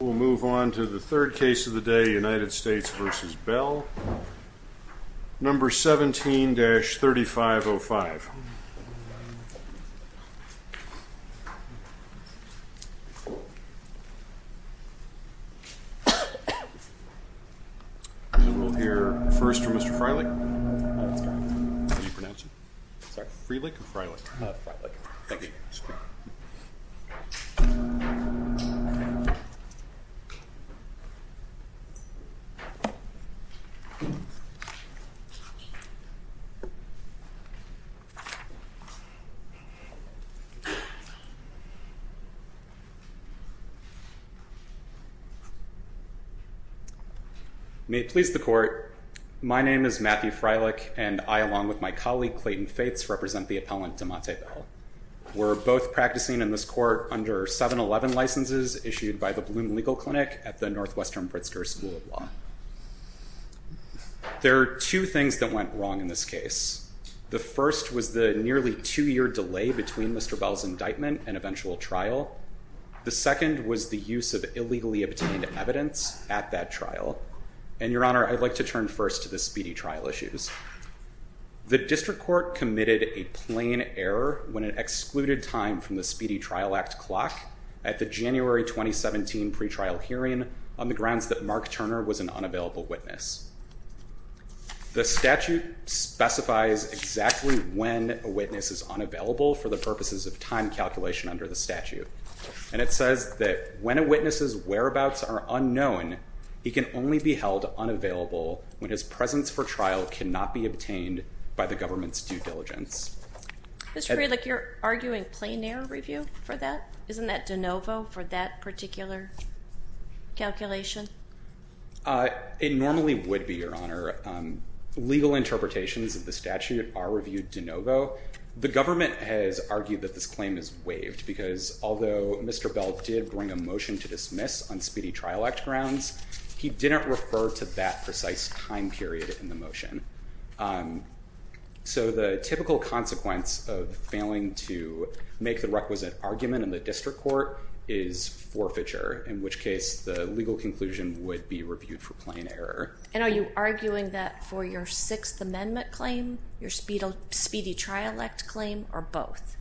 We'll move on to the third case of the day, United States v. Bell, No. 17-3505. We'll hear first from Mr. Freilich. How do you pronounce it? Freilich or Freilich? Freilich. Thank you. May it please the Court, my name is Matthew Freilich, and I, along with my colleague Clayton Fates, represent the appellant Demontae Bell. We're both practicing in this court under 711 licenses issued by the Bloom Legal Clinic at the Northwestern Pritzker School of Law. There are two things that went wrong in this case. The first was the nearly two-year delay between Mr. Bell's indictment and eventual trial. The second was the use of illegally obtained evidence at that trial. And, Your Honor, I'd like to turn first to the speedy trial issues. The district court committed a plain error when it excluded time from the Speedy Trial Act clock at the January 2017 pretrial hearing on the grounds that Mark Turner was an unavailable witness. The statute specifies exactly when a witness is unavailable for the purposes of time calculation under the statute. And it says that when a witness's whereabouts are unknown, he can only be held unavailable when his presence for trial cannot be obtained by the government's due diligence. Mr. Freilich, you're arguing plain error review for that? Isn't that de novo for that particular calculation? It normally would be, Your Honor. The government has argued that this claim is waived because although Mr. Bell did bring a motion to dismiss on Speedy Trial Act grounds, he didn't refer to that precise time period in the motion. So the typical consequence of failing to make the requisite argument in the district court is forfeiture, in which case the legal conclusion would be reviewed for plain error. And are you arguing that for your Sixth Amendment claim, your Speedy Trial Act claim, or both?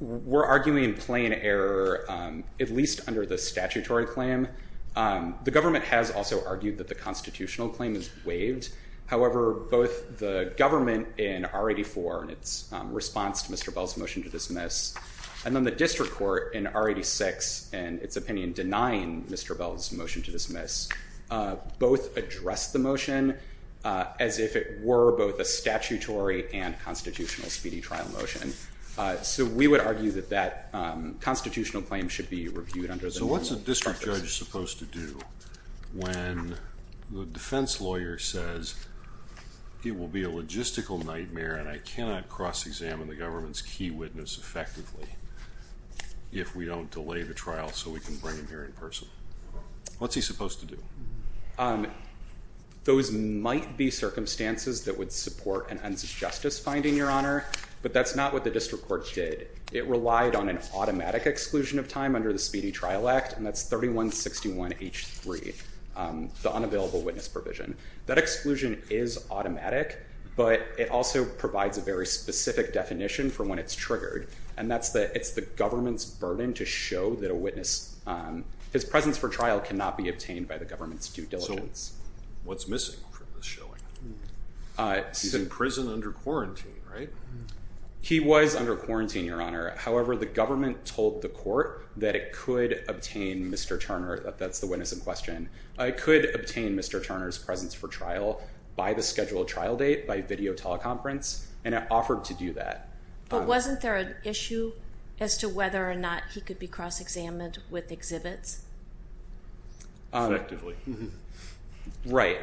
We're arguing plain error, at least under the statutory claim. The government has also argued that the constitutional claim is waived. However, both the government in R-84 in its response to Mr. Bell's motion to dismiss, and then the district court in R-86 in its opinion denying Mr. Bell's motion to dismiss, both addressed the motion as if it were both a statutory and constitutional speedy trial motion. So we would argue that that constitutional claim should be reviewed under the normal purpose. What is the judge supposed to do when the defense lawyer says it will be a logistical nightmare and I cannot cross-examine the government's key witness effectively if we don't delay the trial so we can bring him here in person? What's he supposed to do? Those might be circumstances that would support an ends of justice finding, Your Honor, but that's not what the district court did. It relied on an automatic exclusion of time under the Speedy Trial Act, and that's 3161H3, the unavailable witness provision. That exclusion is automatic, but it also provides a very specific definition for when it's triggered, and that's that it's the government's burden to show that a witness, his presence for trial cannot be obtained by the government's due diligence. So what's missing from this showing? He's in prison under quarantine, right? He was under quarantine, Your Honor. However, the government told the court that it could obtain Mr. Turner. That's the witness in question. It could obtain Mr. Turner's presence for trial by the scheduled trial date by video teleconference, and it offered to do that. But wasn't there an issue as to whether or not he could be cross-examined with exhibits? Effectively. Right.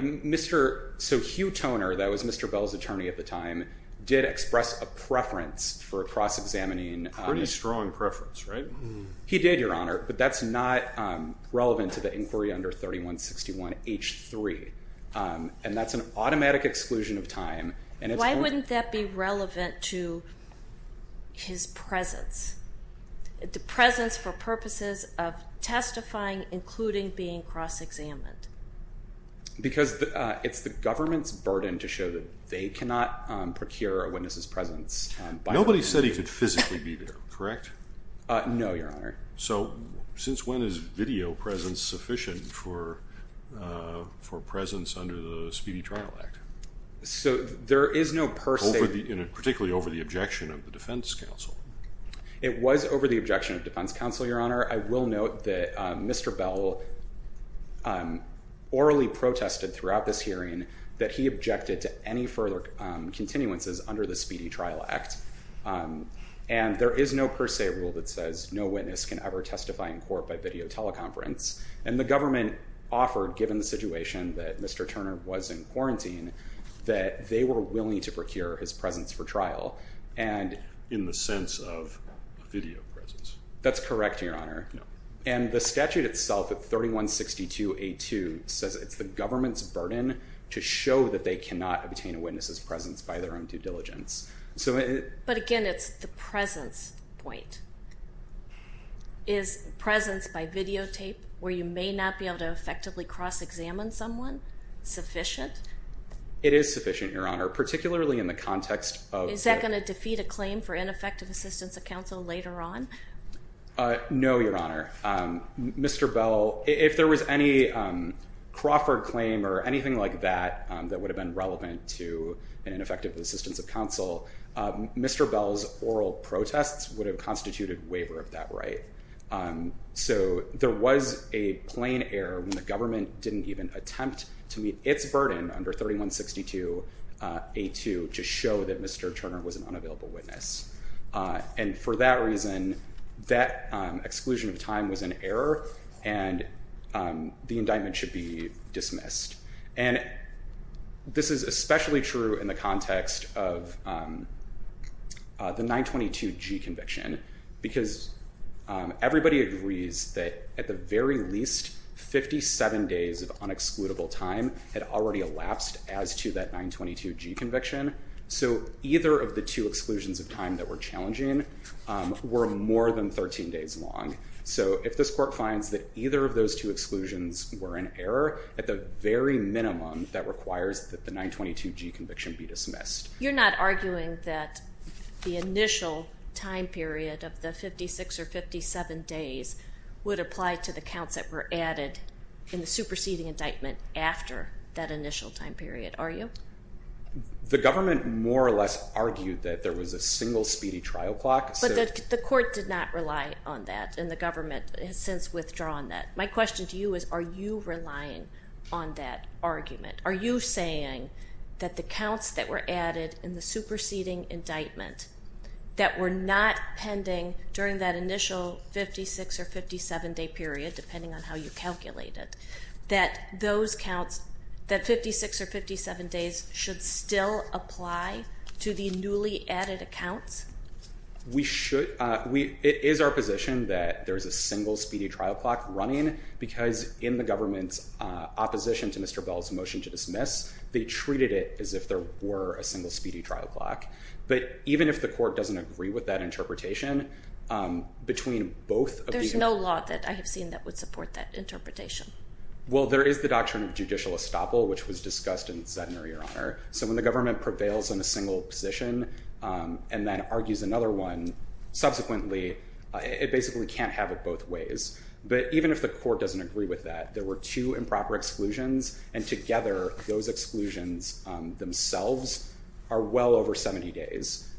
So Hugh Toner, that was Mr. Bell's attorney at the time, did express a preference for cross-examining. Pretty strong preference, right? He did, Your Honor, but that's not relevant to the inquiry under 3161H3, and that's an automatic exclusion of time. Why wouldn't that be relevant to his presence, the presence for purposes of testifying, including being cross-examined? Because it's the government's burden to show that they cannot procure a witness's presence. Nobody said he could physically be there, correct? No, Your Honor. So since when is video presence sufficient for presence under the Speedy Trial Act? So there is no per se— Particularly over the objection of the defense counsel. It was over the objection of defense counsel, Your Honor. I will note that Mr. Bell orally protested throughout this hearing that he objected to any further continuances under the Speedy Trial Act. And there is no per se rule that says no witness can ever testify in court by video teleconference. And the government offered, given the situation that Mr. Turner was in quarantine, that they were willing to procure his presence for trial. In the sense of video presence? That's correct, Your Honor. And the statute itself at 3162A2 says it's the government's burden to show that they cannot obtain a witness's presence by their own due diligence. But again, it's the presence point. Is presence by videotape, where you may not be able to effectively cross-examine someone, sufficient? It is sufficient, Your Honor, particularly in the context of— Is that going to defeat a claim for ineffective assistance of counsel later on? No, Your Honor. Mr. Bell, if there was any Crawford claim or anything like that that would have been relevant to an ineffective assistance of counsel, Mr. Bell's oral protests would have constituted waiver of that right. So there was a plain error when the government didn't even attempt to meet its burden under 3162A2 to show that Mr. Turner was an unavailable witness. And for that reason, that exclusion of time was an error, and the indictment should be dismissed. And this is especially true in the context of the 922G conviction, because everybody agrees that at the very least, 57 days of unexcludable time had already elapsed as to that 922G conviction. So either of the two exclusions of time that were challenging were more than 13 days long. So if this court finds that either of those two exclusions were an error, at the very minimum, that requires that the 922G conviction be dismissed. You're not arguing that the initial time period of the 56 or 57 days would apply to the counts that were added in the superseding indictment after that initial time period, are you? The government more or less argued that there was a single speedy trial clock. But the court did not rely on that, and the government has since withdrawn that. My question to you is, are you relying on that argument? Are you saying that the counts that were added in the superseding indictment that were not pending during that initial 56 or 57 day period, depending on how you calculate it, that those counts, that 56 or 57 days, should still apply to the newly added accounts? It is our position that there is a single speedy trial clock running, because in the government's opposition to Mr. Bell's motion to dismiss, they treated it as if there were a single speedy trial clock. But even if the court doesn't agree with that interpretation, between both of these... There's no law that I have seen that would support that interpretation. Well, there is the doctrine of judicial estoppel, which was discussed in Sednor, Your Honor. So when the government prevails on a single position and then argues another one, subsequently, it basically can't have it both ways. But even if the court doesn't agree with that, there were two improper exclusions, and together, those exclusions themselves are well over 70 days.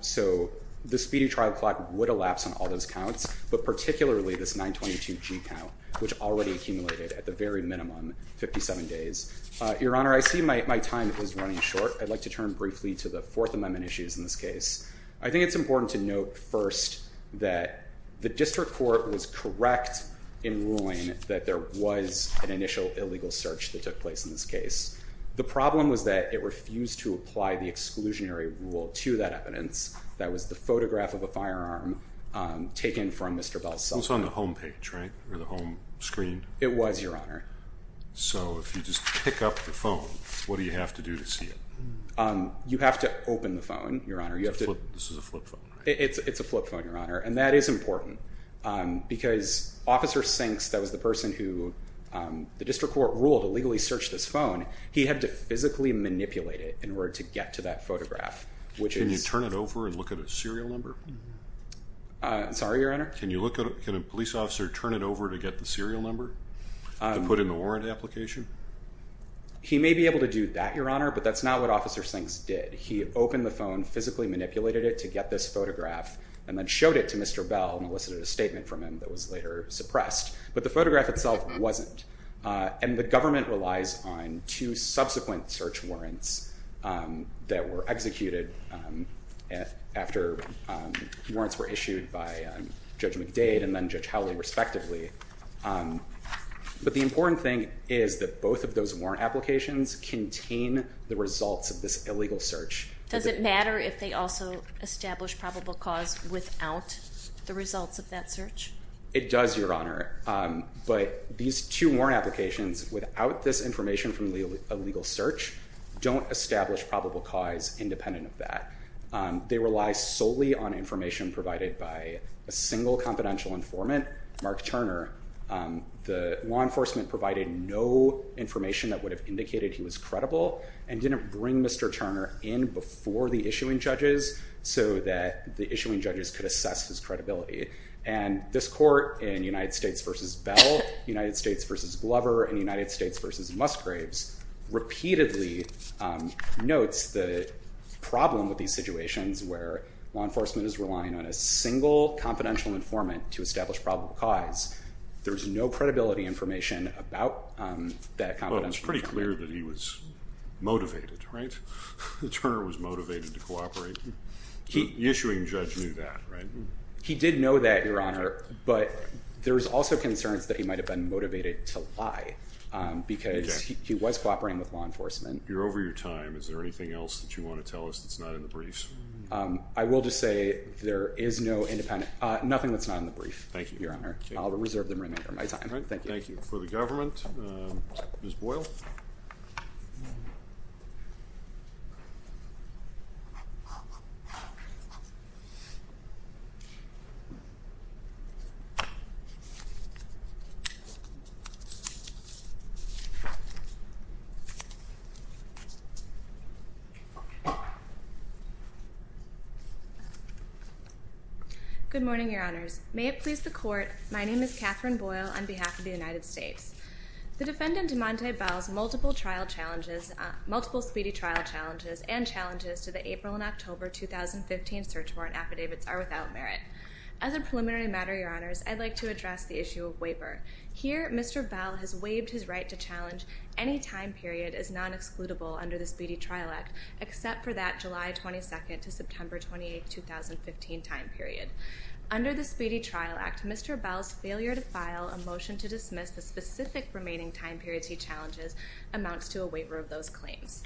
So the speedy trial clock would elapse on all those counts, but particularly this 922G count, which already accumulated at the very minimum 57 days. Your Honor, I see my time is running short. I'd like to turn briefly to the Fourth Amendment issues in this case. I think it's important to note first that the district court was correct in ruling that there was an initial illegal search that took place in this case. The problem was that it refused to apply the exclusionary rule to that evidence. That was the photograph of a firearm taken from Mr. Buzz's cell phone. It was on the home page, right? Or the home screen? It was, Your Honor. So if you just pick up the phone, what do you have to do to see it? You have to open the phone, Your Honor. This is a flip phone, right? It's a flip phone, Your Honor. And that is important, because Officer Sinks, that was the person who the district court ruled illegally searched this phone, he had to physically manipulate it in order to get to that photograph. Can you turn it over and look at a serial number? Sorry, Your Honor? Can a police officer turn it over to get the serial number to put in a warrant application? He may be able to do that, Your Honor, but that's not what Officer Sinks did. He opened the phone, physically manipulated it to get this photograph, and then showed it to Mr. Bell and elicited a statement from him that was later suppressed. But the photograph itself wasn't. And the government relies on two subsequent search warrants that were executed after warrants were issued by Judge McDade and then Judge Howley, respectively. But the important thing is that both of those warrant applications contain the results of this illegal search. Does it matter if they also establish probable cause without the results of that search? It does, Your Honor. But these two warrant applications, without this information from the illegal search, don't establish probable cause independent of that. They rely solely on information provided by a single confidential informant, Mark Turner. The law enforcement provided no information that would have indicated he was credible and didn't bring Mr. Turner in before the issuing judges so that the issuing judges could assess his credibility. And this court in United States v. Bell, United States v. Glover, and United States v. Musgraves, repeatedly notes the problem with these situations where law enforcement is relying on a single confidential informant to establish probable cause. There's no credibility information about that confidential informant. Well, it's pretty clear that he was motivated, right? That Turner was motivated to cooperate. The issuing judge knew that, right? He did know that, Your Honor. But there's also concerns that he might have been motivated to lie because he was cooperating with law enforcement. You're over your time. Is there anything else that you want to tell us that's not in the briefs? I will just say there is no independent, nothing that's not in the brief, Your Honor. I'll reserve the remainder of my time. Thank you. Thank you. For the government, Ms. Boyle. Good morning, Your Honors. May it please the Court, my name is Katherine Boyle on behalf of the United States. The defendant, Monta Bell's, multiple trial challenges, multiple speedy trial challenges, and challenges to the April and October 2015 search warrant affidavits are without merit. As a preliminary matter, Your Honors, I'd like to address the issue of waiver. Here, Mr. Bell has waived his right to challenge any time period as non-excludable under the Speedy Trial Act, except for that July 22nd to September 28th, 2015 time period. Under the Speedy Trial Act, Mr. Bell's failure to file a motion to dismiss the specific remaining time periods he challenges amounts to a waiver of those claims.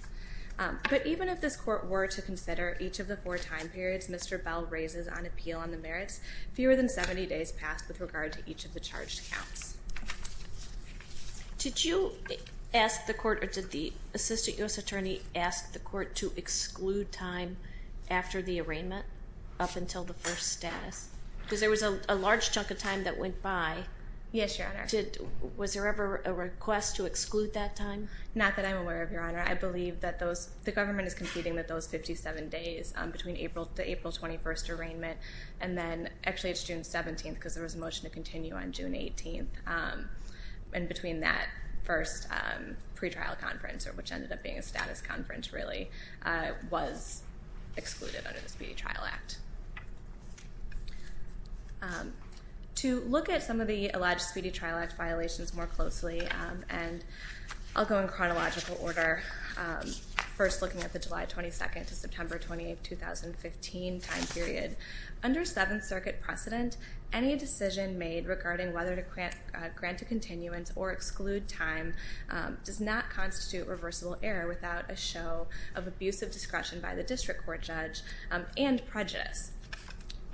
But even if this Court were to consider each of the four time periods Mr. Bell raises on appeal on the merits, fewer than 70 days pass with regard to each of the charged counts. Did you ask the Court, or did the Assistant U.S. Attorney ask the Court to exclude time after the arraignment, up until the first status? Because there was a large chunk of time that went by. Yes, Your Honor. Was there ever a request to exclude that time? Not that I'm aware of, Your Honor. I believe that the government is competing with those 57 days between the April 21st arraignment and then, actually it's June 17th because there was a motion to continue on June 18th. And between that first pretrial conference, which ended up being a status conference really, was excluded under the Speedy Trial Act. To look at some of the alleged Speedy Trial Act violations more closely, and I'll go in chronological order, first looking at the July 22nd to September 28th, 2015 time period. Under Seventh Circuit precedent, any decision made regarding whether to grant a continuance or exclude time does not constitute reversible error without a show of abusive discretion by the district court judge and prejudice.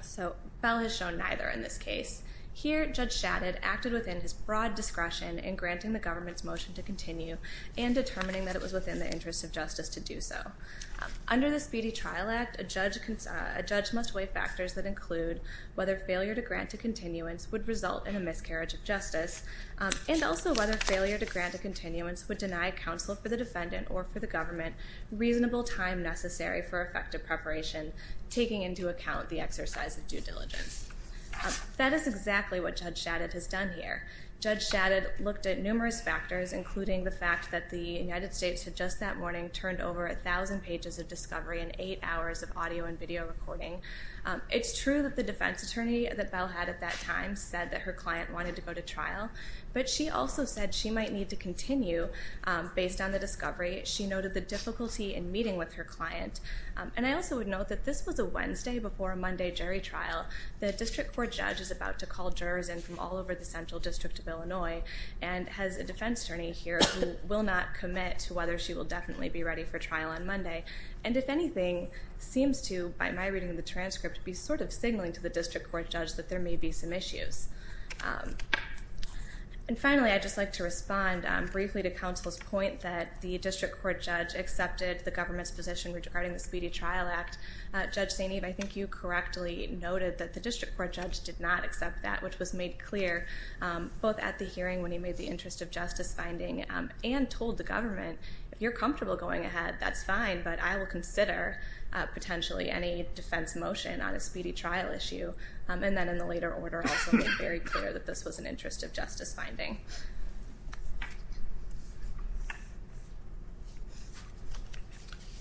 So, Bell has shown neither in this case. Here, Judge Shadid acted within his broad discretion in granting the government's motion to continue and determining that it was within the interest of justice to do so. Under the Speedy Trial Act, a judge must weigh factors that include whether failure to grant a continuance would result in a miscarriage of justice and also whether failure to grant a continuance would deny counsel for the defendant or for the government reasonable time necessary for effective preparation, taking into account the exercise of due diligence. That is exactly what Judge Shadid has done here. Judge Shadid looked at numerous factors, including the fact that the United States had just that morning turned over 1,000 pages of discovery and eight hours of audio and video recording. It's true that the defense attorney that Bell had at that time said that her client wanted to go to trial, but she also said she might need to continue based on the discovery. She noted the difficulty in meeting with her client. And I also would note that this was a Wednesday before a Monday jury trial. The district court judge is about to call jurors in from all over the Central District of Illinois and has a defense attorney here who will not commit to whether she will definitely be ready for trial on Monday. And if anything, seems to, by my reading of the transcript, be sort of signaling to the district court judge that there may be some issues. And finally, I'd just like to respond briefly to counsel's point that the district court judge accepted the government's position regarding the Speedy Trial Act. Judge St. Eve, I think you correctly noted that the district court judge did not accept that, which was made clear both at the hearing when he made the interest of justice finding and told the government, if you're comfortable going ahead, that's fine, but I will consider potentially any defense motion on a speedy trial issue. And then in the later order also made very clear that this was an interest of justice finding.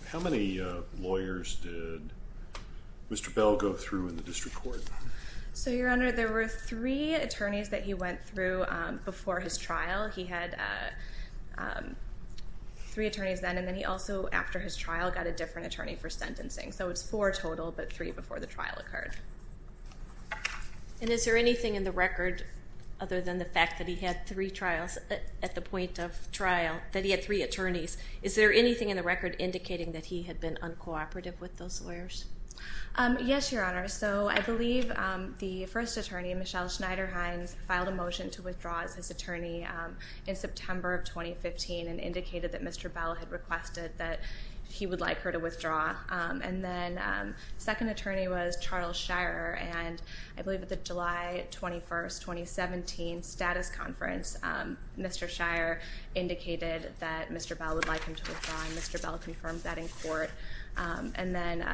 How many lawyers did Mr. Bell go through in the district court? So, Your Honor, there were three attorneys that he went through before his trial. He had three attorneys then, and then he also, after his trial, got a different attorney for sentencing. So it's four total, but three before the trial occurred. And is there anything in the record, other than the fact that he had three trials at the point of trial, that he had three attorneys, is there anything in the record indicating that he had been uncooperative with those lawyers? Yes, Your Honor, so I believe the first attorney, Michelle Schneider-Hines, filed a motion to withdraw as his attorney in September of 2015 and indicated that Mr. Bell had requested that he would like her to withdraw. And then the second attorney was Charles Shire, and I believe at the July 21, 2017, status conference, Mr. Shire indicated that Mr. Bell would like him to withdraw, and Mr. Bell confirmed that in court. And then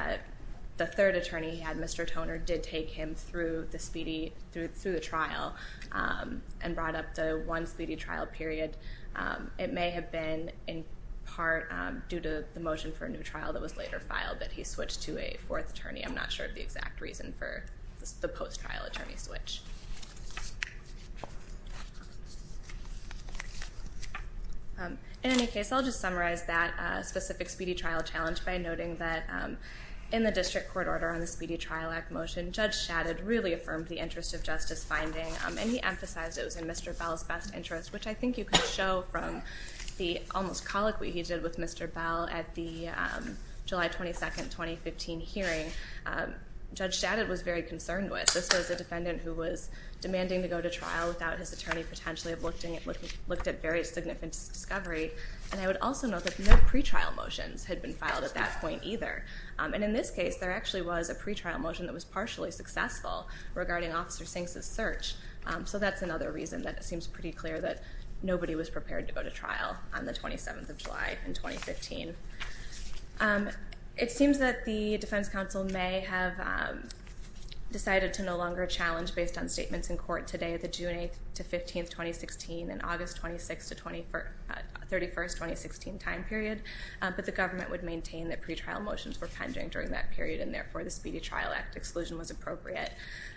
the third attorney he had, Mr. Toner, did take him through the trial and brought up the one speedy trial period. It may have been in part due to the motion for a new trial that was later filed that he switched to a fourth attorney. I'm not sure of the exact reason for the post-trial attorney switch. In any case, I'll just summarize that specific speedy trial challenge by noting that in the district court order on the Speedy Trial Act motion, Judge Shadid really affirmed the interest of justice finding, and he emphasized it was in Mr. Bell's best interest, which I think you can show from the almost colloquy he did with Mr. Bell at the July 22, 2015 hearing. Judge Shadid was very concerned with. This was a defendant who was demanding to go to trial without his attorney potentially have looked at very significant discovery. And I would also note that no pretrial motions had been filed at that point either. And in this case, there actually was a pretrial motion that was partially successful regarding Officer Sinks' search. So that's another reason that it seems pretty clear that nobody was prepared to go to trial on the 27th of July in 2015. It seems that the defense counsel may have decided to no longer challenge based on statements in court today, the June 8th to 15th, 2016, and August 26th to 31st, 2016 time period. But the government would maintain that pretrial motions were pending during that period, and therefore the Speedy Trial Act exclusion was appropriate.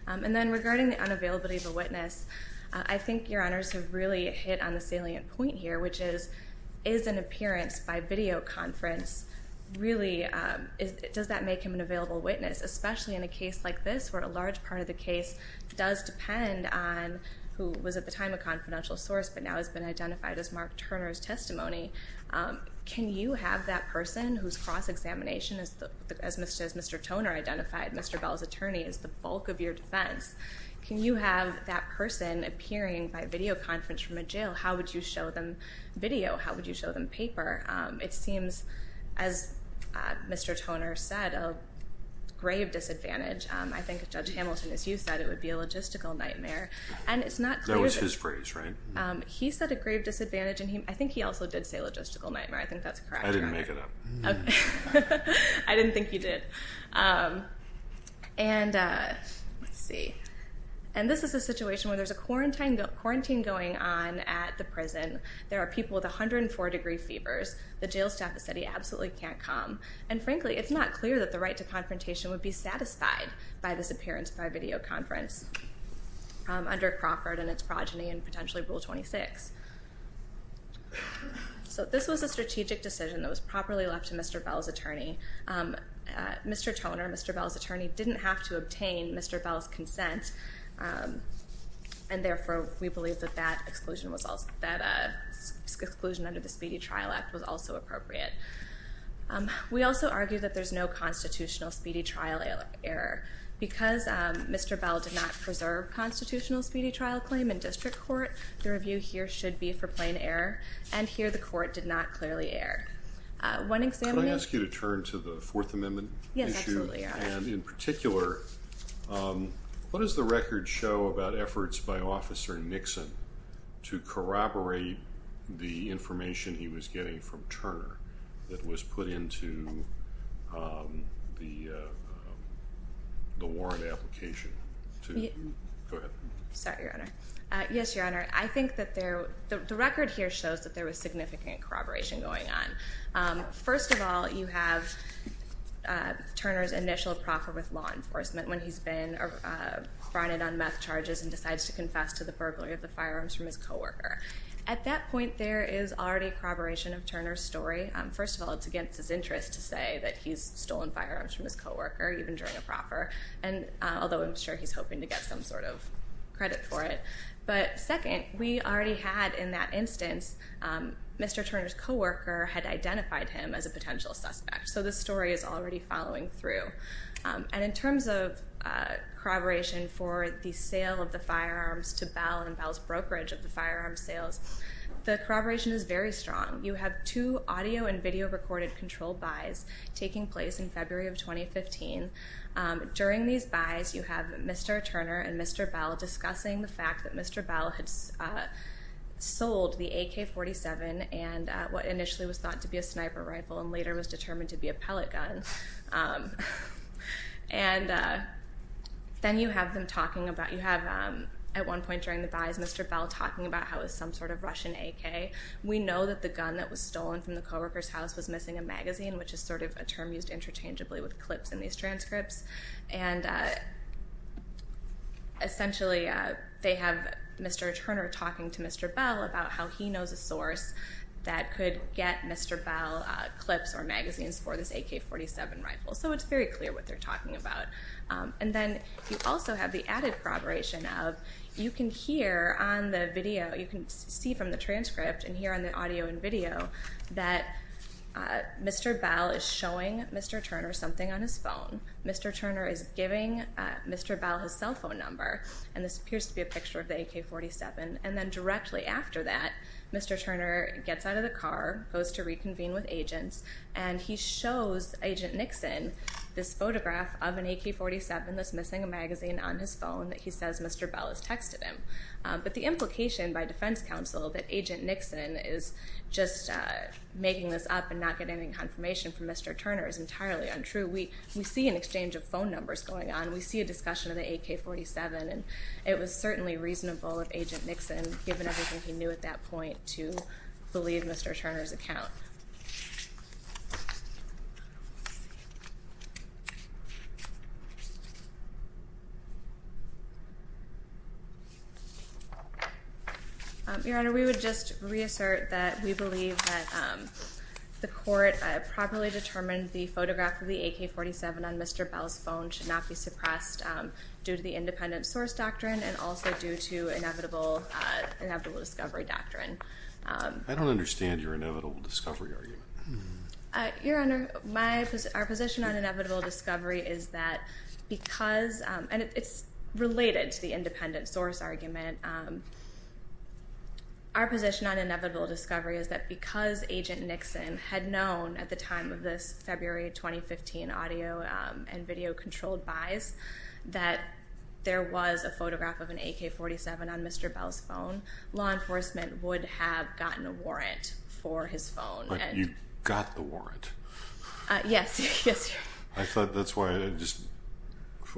And then regarding the unavailability of a witness, I think your honors have really hit on the salient point here, which is, is an appearance by videoconference really, does that make him an available witness, especially in a case like this where a large part of the case does depend on who was at the time a confidential source but now has been identified as Mark Turner's testimony? Can you have that person whose cross-examination, as Mr. Toner identified, Mr. Bell's attorney, is the bulk of your defense, can you have that person appearing by videoconference from a jail? How would you show them video? How would you show them paper? It seems, as Mr. Toner said, a grave disadvantage. I think Judge Hamilton, as you said, it would be a logistical nightmare. That was his phrase, right? He said a grave disadvantage, and I think he also did say logistical nightmare. I think that's correct, your honor. I didn't make it up. I didn't think you did. And, let's see, and this is a situation where there's a quarantine going on at the prison. There are people with 104 degree fevers. The jail staff has said he absolutely can't come. And frankly, it's not clear that the right to confrontation would be satisfied by this appearance by videoconference under Crawford and its progeny and potentially Rule 26. So this was a strategic decision that was properly left to Mr. Bell's attorney. Mr. Toner, Mr. Bell's attorney, didn't have to obtain Mr. Bell's consent, and therefore we believe that that exclusion under the Speedy Trial Act was also appropriate. We also argue that there's no constitutional speedy trial error. Because Mr. Bell did not preserve constitutional speedy trial claim in district court, the review here should be for plain error, and here the court did not clearly err. One examiner. Could I ask you to turn to the Fourth Amendment issue? Yes, absolutely, Your Honor. And in particular, what does the record show about efforts by Officer Nixon to corroborate the information he was getting from Turner that was put into the warrant application? Go ahead. Sorry, Your Honor. Yes, Your Honor. I think that the record here shows that there was significant corroboration going on. First of all, you have Turner's initial proffer with law enforcement when he's been fronted on meth charges and decides to confess to the burglary of the firearms from his co-worker. At that point, there is already corroboration of Turner's story. First of all, it's against his interest to say that he's stolen firearms from his co-worker, even during a proffer, although I'm sure he's hoping to get some sort of credit for it. But second, we already had in that instance Mr. Turner's co-worker had identified him as a potential suspect, so this story is already following through. And in terms of corroboration for the sale of the firearms to Bell and Bell's brokerage of the firearms sales, the corroboration is very strong. You have two audio and video recorded controlled buys taking place in February of 2015. During these buys, you have Mr. Turner and Mr. Bell discussing the fact that Mr. Bell had sold the AK-47 and what initially was thought to be a sniper rifle and later was determined to be a pellet gun. And then you have them talking about, you have at one point during the buys, Mr. Bell talking about how it was some sort of Russian AK. We know that the gun that was stolen from the co-worker's house was missing a magazine, which is sort of a term used interchangeably with clips in these transcripts. And essentially they have Mr. Turner talking to Mr. Bell about how he knows a source that could get Mr. Bell clips or magazines for this AK-47 rifle. So it's very clear what they're talking about. And then you also have the added corroboration of you can hear on the video, you can see from the transcript and hear on the audio and video, that Mr. Bell is showing Mr. Turner something on his phone. Mr. Turner is giving Mr. Bell his cell phone number, and this appears to be a picture of the AK-47. And then directly after that, Mr. Turner gets out of the car, goes to reconvene with agents, and he shows Agent Nixon this photograph of an AK-47 that's missing a magazine on his phone that he says Mr. Bell has texted him. But the implication by defense counsel that Agent Nixon is just making this up and not getting any confirmation from Mr. Turner is entirely untrue. We see an exchange of phone numbers going on. We see a discussion of the AK-47, and it was certainly reasonable of Agent Nixon, given everything he knew at that point, to believe Mr. Turner's account. Your Honor, we would just reassert that we believe that the court properly determined the photograph of the AK-47 on Mr. Bell's phone should not be suppressed due to the independent source doctrine and also due to inevitable discovery doctrine. I don't understand your inevitable discovery argument. Your Honor, our position on inevitable discovery is that because, and it's related to the independent source argument, our position on inevitable discovery is that because Agent Nixon had known at the time of this February 2015 and video-controlled buys that there was a photograph of an AK-47 on Mr. Bell's phone, law enforcement would have gotten a warrant for his phone. But you got the warrant. Yes, yes, Your Honor. I thought that's why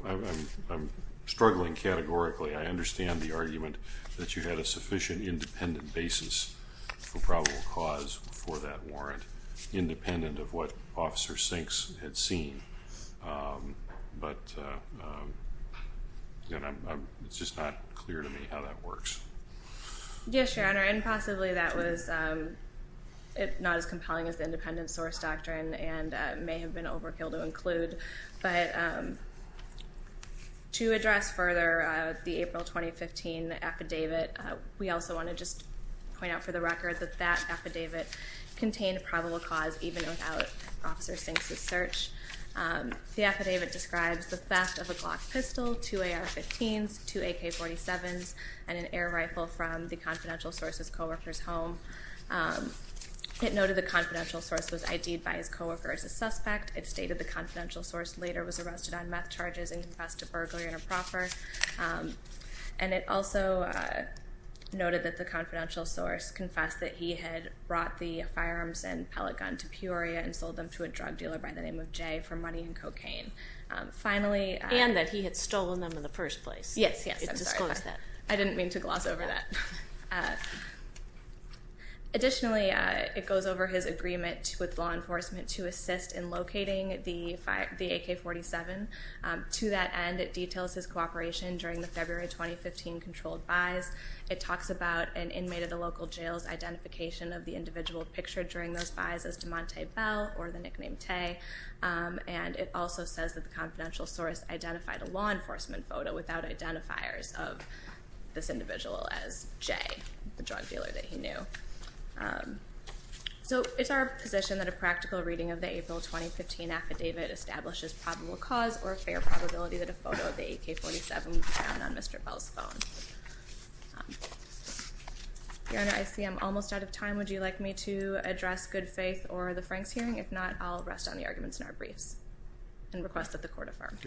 I'm struggling categorically. I understand the argument that you had a sufficient independent basis for probable cause for that warrant, independent of what Officer Sinks had seen. But it's just not clear to me how that works. Yes, Your Honor, and possibly that was not as compelling as the independent source doctrine and may have been overkill to include. But to address further the April 2015 affidavit, we also want to just point out for the record that that affidavit contained probable cause even without Officer Sinks' search. The affidavit describes the theft of a Glock pistol, two AR-15s, two AK-47s, and an air rifle from the confidential source's co-worker's home. It noted the confidential source was ID'd by his co-worker as a suspect. It stated the confidential source later was arrested on meth charges and confessed to burglary on a proffer. And it also noted that the confidential source confessed that he had brought the firearms and pellet gun to Peoria and sold them to a drug dealer by the name of Jay for money and cocaine. And that he had stolen them in the first place. Yes, yes, I'm sorry. It disclosed that. I didn't mean to gloss over that. Additionally, it goes over his agreement with law enforcement to assist in locating the AK-47. To that end, it details his cooperation during the February 2015 controlled buys. It talks about an inmate at a local jail's identification of the individual pictured during those buys as DeMonte Bell or the nickname Tay. And it also says that the confidential source identified a law enforcement photo without identifiers of this individual as Jay, the drug dealer that he knew. So it's our position that a practical reading of the April 2015 affidavit establishes probable cause or a fair probability that a photo of the AK-47 was found on Mr. Bell's phone. Your Honor, I see I'm almost out of time. Would you like me to address good faith or the Franks hearing? If not, I'll rest on the arguments in our briefs and request that the court affirm.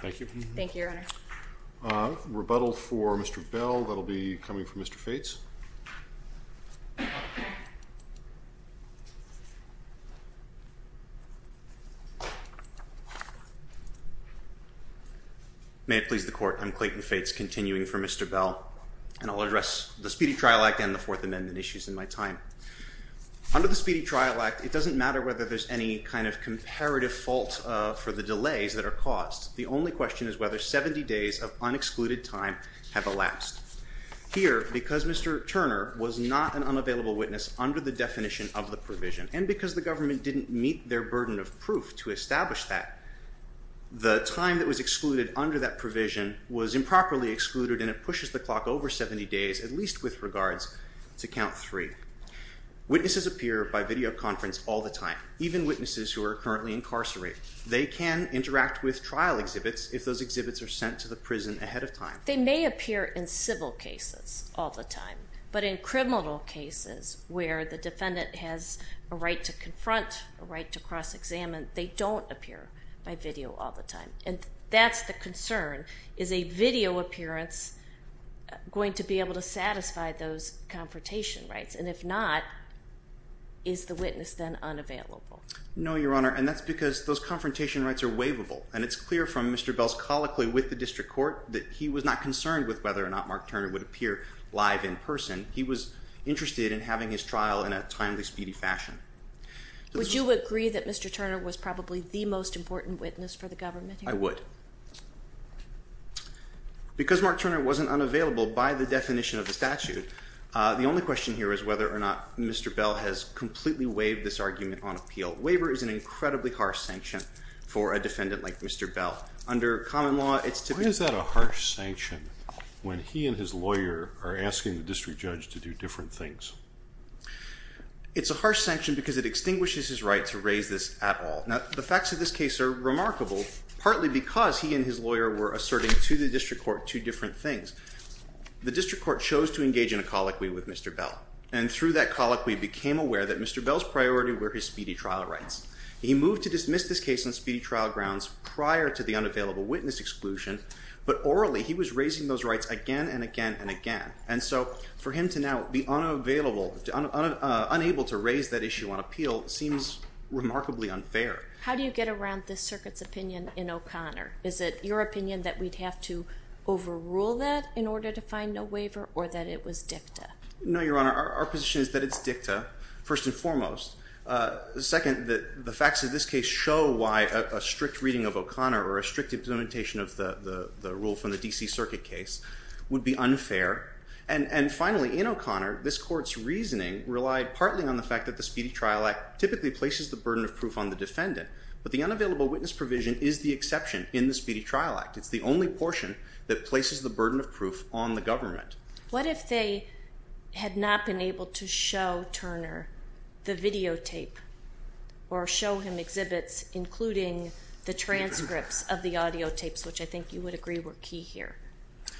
Thank you. Thank you, Your Honor. Rebuttal for Mr. Bell. That will be coming from Mr. Fates. May it please the Court. I'm Clayton Fates, continuing for Mr. Bell, and I'll address the Speedy Trial Act and the Fourth Amendment issues in my time. Under the Speedy Trial Act, it doesn't matter whether there's any kind of comparative fault for the delays that are caused. The only question is whether 70 days of unexcluded time have elapsed. Here, because Mr. Turner was not an unavailable witness under the definition of the provision, and because the government didn't meet their burden of proof to establish that, the time that was excluded under that provision was improperly excluded, and it pushes the clock over 70 days, at least with regards to count three. Witnesses appear by videoconference all the time, even witnesses who are currently incarcerated. They can interact with trial exhibits if those exhibits are sent to the prison ahead of time. They may appear in civil cases all the time, but in criminal cases where the defendant has a right to confront, a right to cross-examine, they don't appear by video all the time. And that's the concern. Is a video appearance going to be able to satisfy those confrontation rights? And if not, is the witness then unavailable? No, Your Honor. And that's because those confrontation rights are waivable, and it's clear from Mr. Bell's colloquy with the district court that he was not concerned with whether or not Mark Turner would appear live in person. He was interested in having his trial in a timely, speedy fashion. Would you agree that Mr. Turner was probably the most important witness for the government here? I would. Because Mark Turner wasn't unavailable by the definition of the statute, the only question here is whether or not Mr. Bell has completely waived this argument on appeal. Waiver is an incredibly harsh sanction for a defendant like Mr. Bell. Under common law, it's to be... Why is that a harsh sanction when he and his lawyer are asking the district judge to do different things? It's a harsh sanction because it extinguishes his right to raise this at all. Now, the facts of this case are remarkable, partly because he and his lawyer were asserting to the district court two different things. The district court chose to engage in a colloquy with Mr. Bell, and through that colloquy became aware that Mr. Bell's priority were his speedy trial rights. He moved to dismiss this case on speedy trial grounds prior to the unavailable witness exclusion, but orally he was raising those rights again and again and again. And so for him to now be unable to raise that issue on appeal seems remarkably unfair. How do you get around this circuit's opinion in O'Connor? Is it your opinion that we'd have to overrule that in order to find no waiver, or that it was dicta? No, Your Honor. Our position is that it's dicta, first and foremost. Second, the facts of this case show why a strict reading of O'Connor or a strict implementation of the rule from the D.C. Circuit case would be unfair. And finally, in O'Connor, this court's reasoning relied partly on the fact that the Speedy Trial Act typically places the burden of proof on the defendant, but the unavailable witness provision is the exception in the Speedy Trial Act. It's the only portion that places the burden of proof on the government. What if they had not been able to show Turner the videotape, or show him exhibits including the transcripts of the audiotapes, which I think you would agree were key here.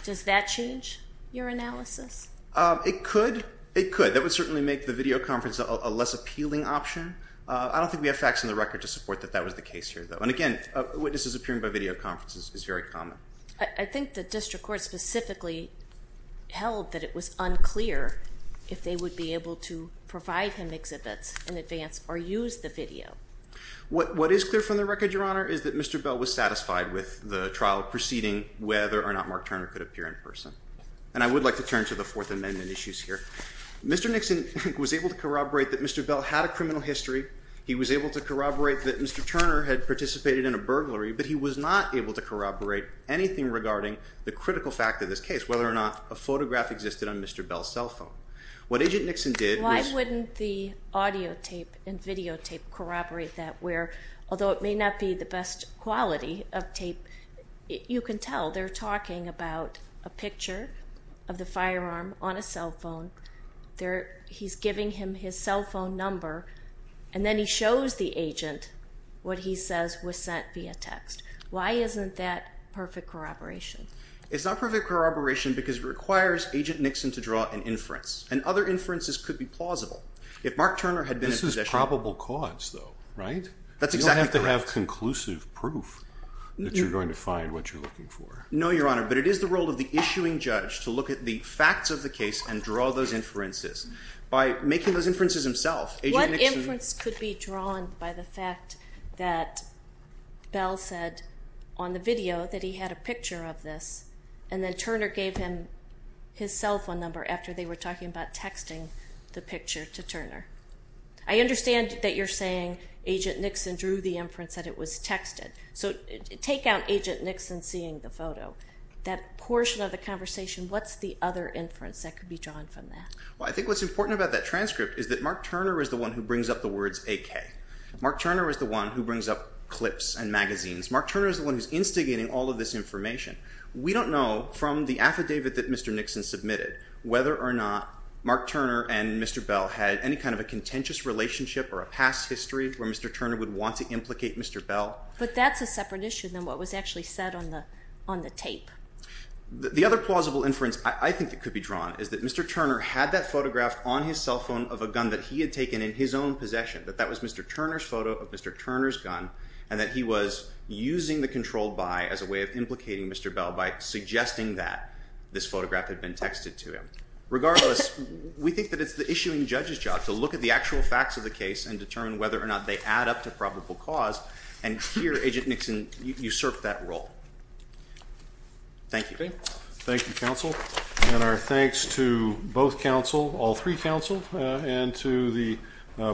Does that change your analysis? It could. It could. That would certainly make the video conference a less appealing option. I don't think we have facts on the record to support that that was the case here, though. And again, witnesses appearing by video conference is very common. I think the district court specifically held that it was unclear if they would be able to provide him exhibits in advance or use the video. What is clear from the record, Your Honor, is that Mr. Bell was satisfied with the trial proceeding whether or not Mark Turner could appear in person. And I would like to turn to the Fourth Amendment issues here. Mr. Nixon was able to corroborate that Mr. Bell had a criminal history. He was able to corroborate that Mr. Turner had participated in a burglary, but he was not able to corroborate anything regarding the critical fact of this case, whether or not a photograph existed on Mr. Bell's cell phone. What Agent Nixon did was... Why wouldn't the audiotape and videotape corroborate that where, although it may not be the best quality of tape, you can tell they're talking about a picture of the firearm on a cell phone. He's giving him his cell phone number, and then he shows the agent what he says was sent via text. Why isn't that perfect corroboration? It's not perfect corroboration because it requires Agent Nixon to draw an inference, and other inferences could be plausible. If Mark Turner had been in possession... This is probable cause, though, right? That's exactly correct. You don't have to have conclusive proof that you're going to find what you're looking for. No, Your Honor, but it is the role of the issuing judge to look at the facts of the case and draw those inferences. By making those inferences himself, Agent Nixon... What inference could be drawn by the fact that Bell said on the video that he had a picture of this, and then Turner gave him his cell phone number after they were talking about texting the picture to Turner? I understand that you're saying Agent Nixon drew the inference that it was texted. So take out Agent Nixon seeing the photo. That portion of the conversation, what's the other inference that could be drawn from that? Well, I think what's important about that transcript is that Mark Turner is the one who brings up the words AK. Mark Turner is the one who brings up clips and magazines. Mark Turner is the one who's instigating all of this information. We don't know from the affidavit that Mr. Nixon submitted whether or not Mark Turner and Mr. Bell had any kind of a contentious relationship or a past history where Mr. Turner would want to implicate Mr. Bell. But that's a separate issue than what was actually said on the tape. The other plausible inference I think that could be drawn is that Mr. Turner had that photograph on his cell phone of a gun that he had taken in his own possession, that that was Mr. Turner's photo of Mr. Turner's gun, and that he was using the controlled by as a way of implicating Mr. Bell by suggesting that this photograph had been texted to him. Regardless, we think that it's the issuing judge's job to look at the actual facts of the case and determine whether or not they add up to probable cause, and here Agent Nixon usurped that role. Thank you. Thank you, counsel. And our thanks to both counsel, all three counsel, and to the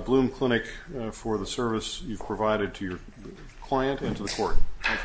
Bloom Clinic for the service you've provided to your client and to the court. Thank you, Professor.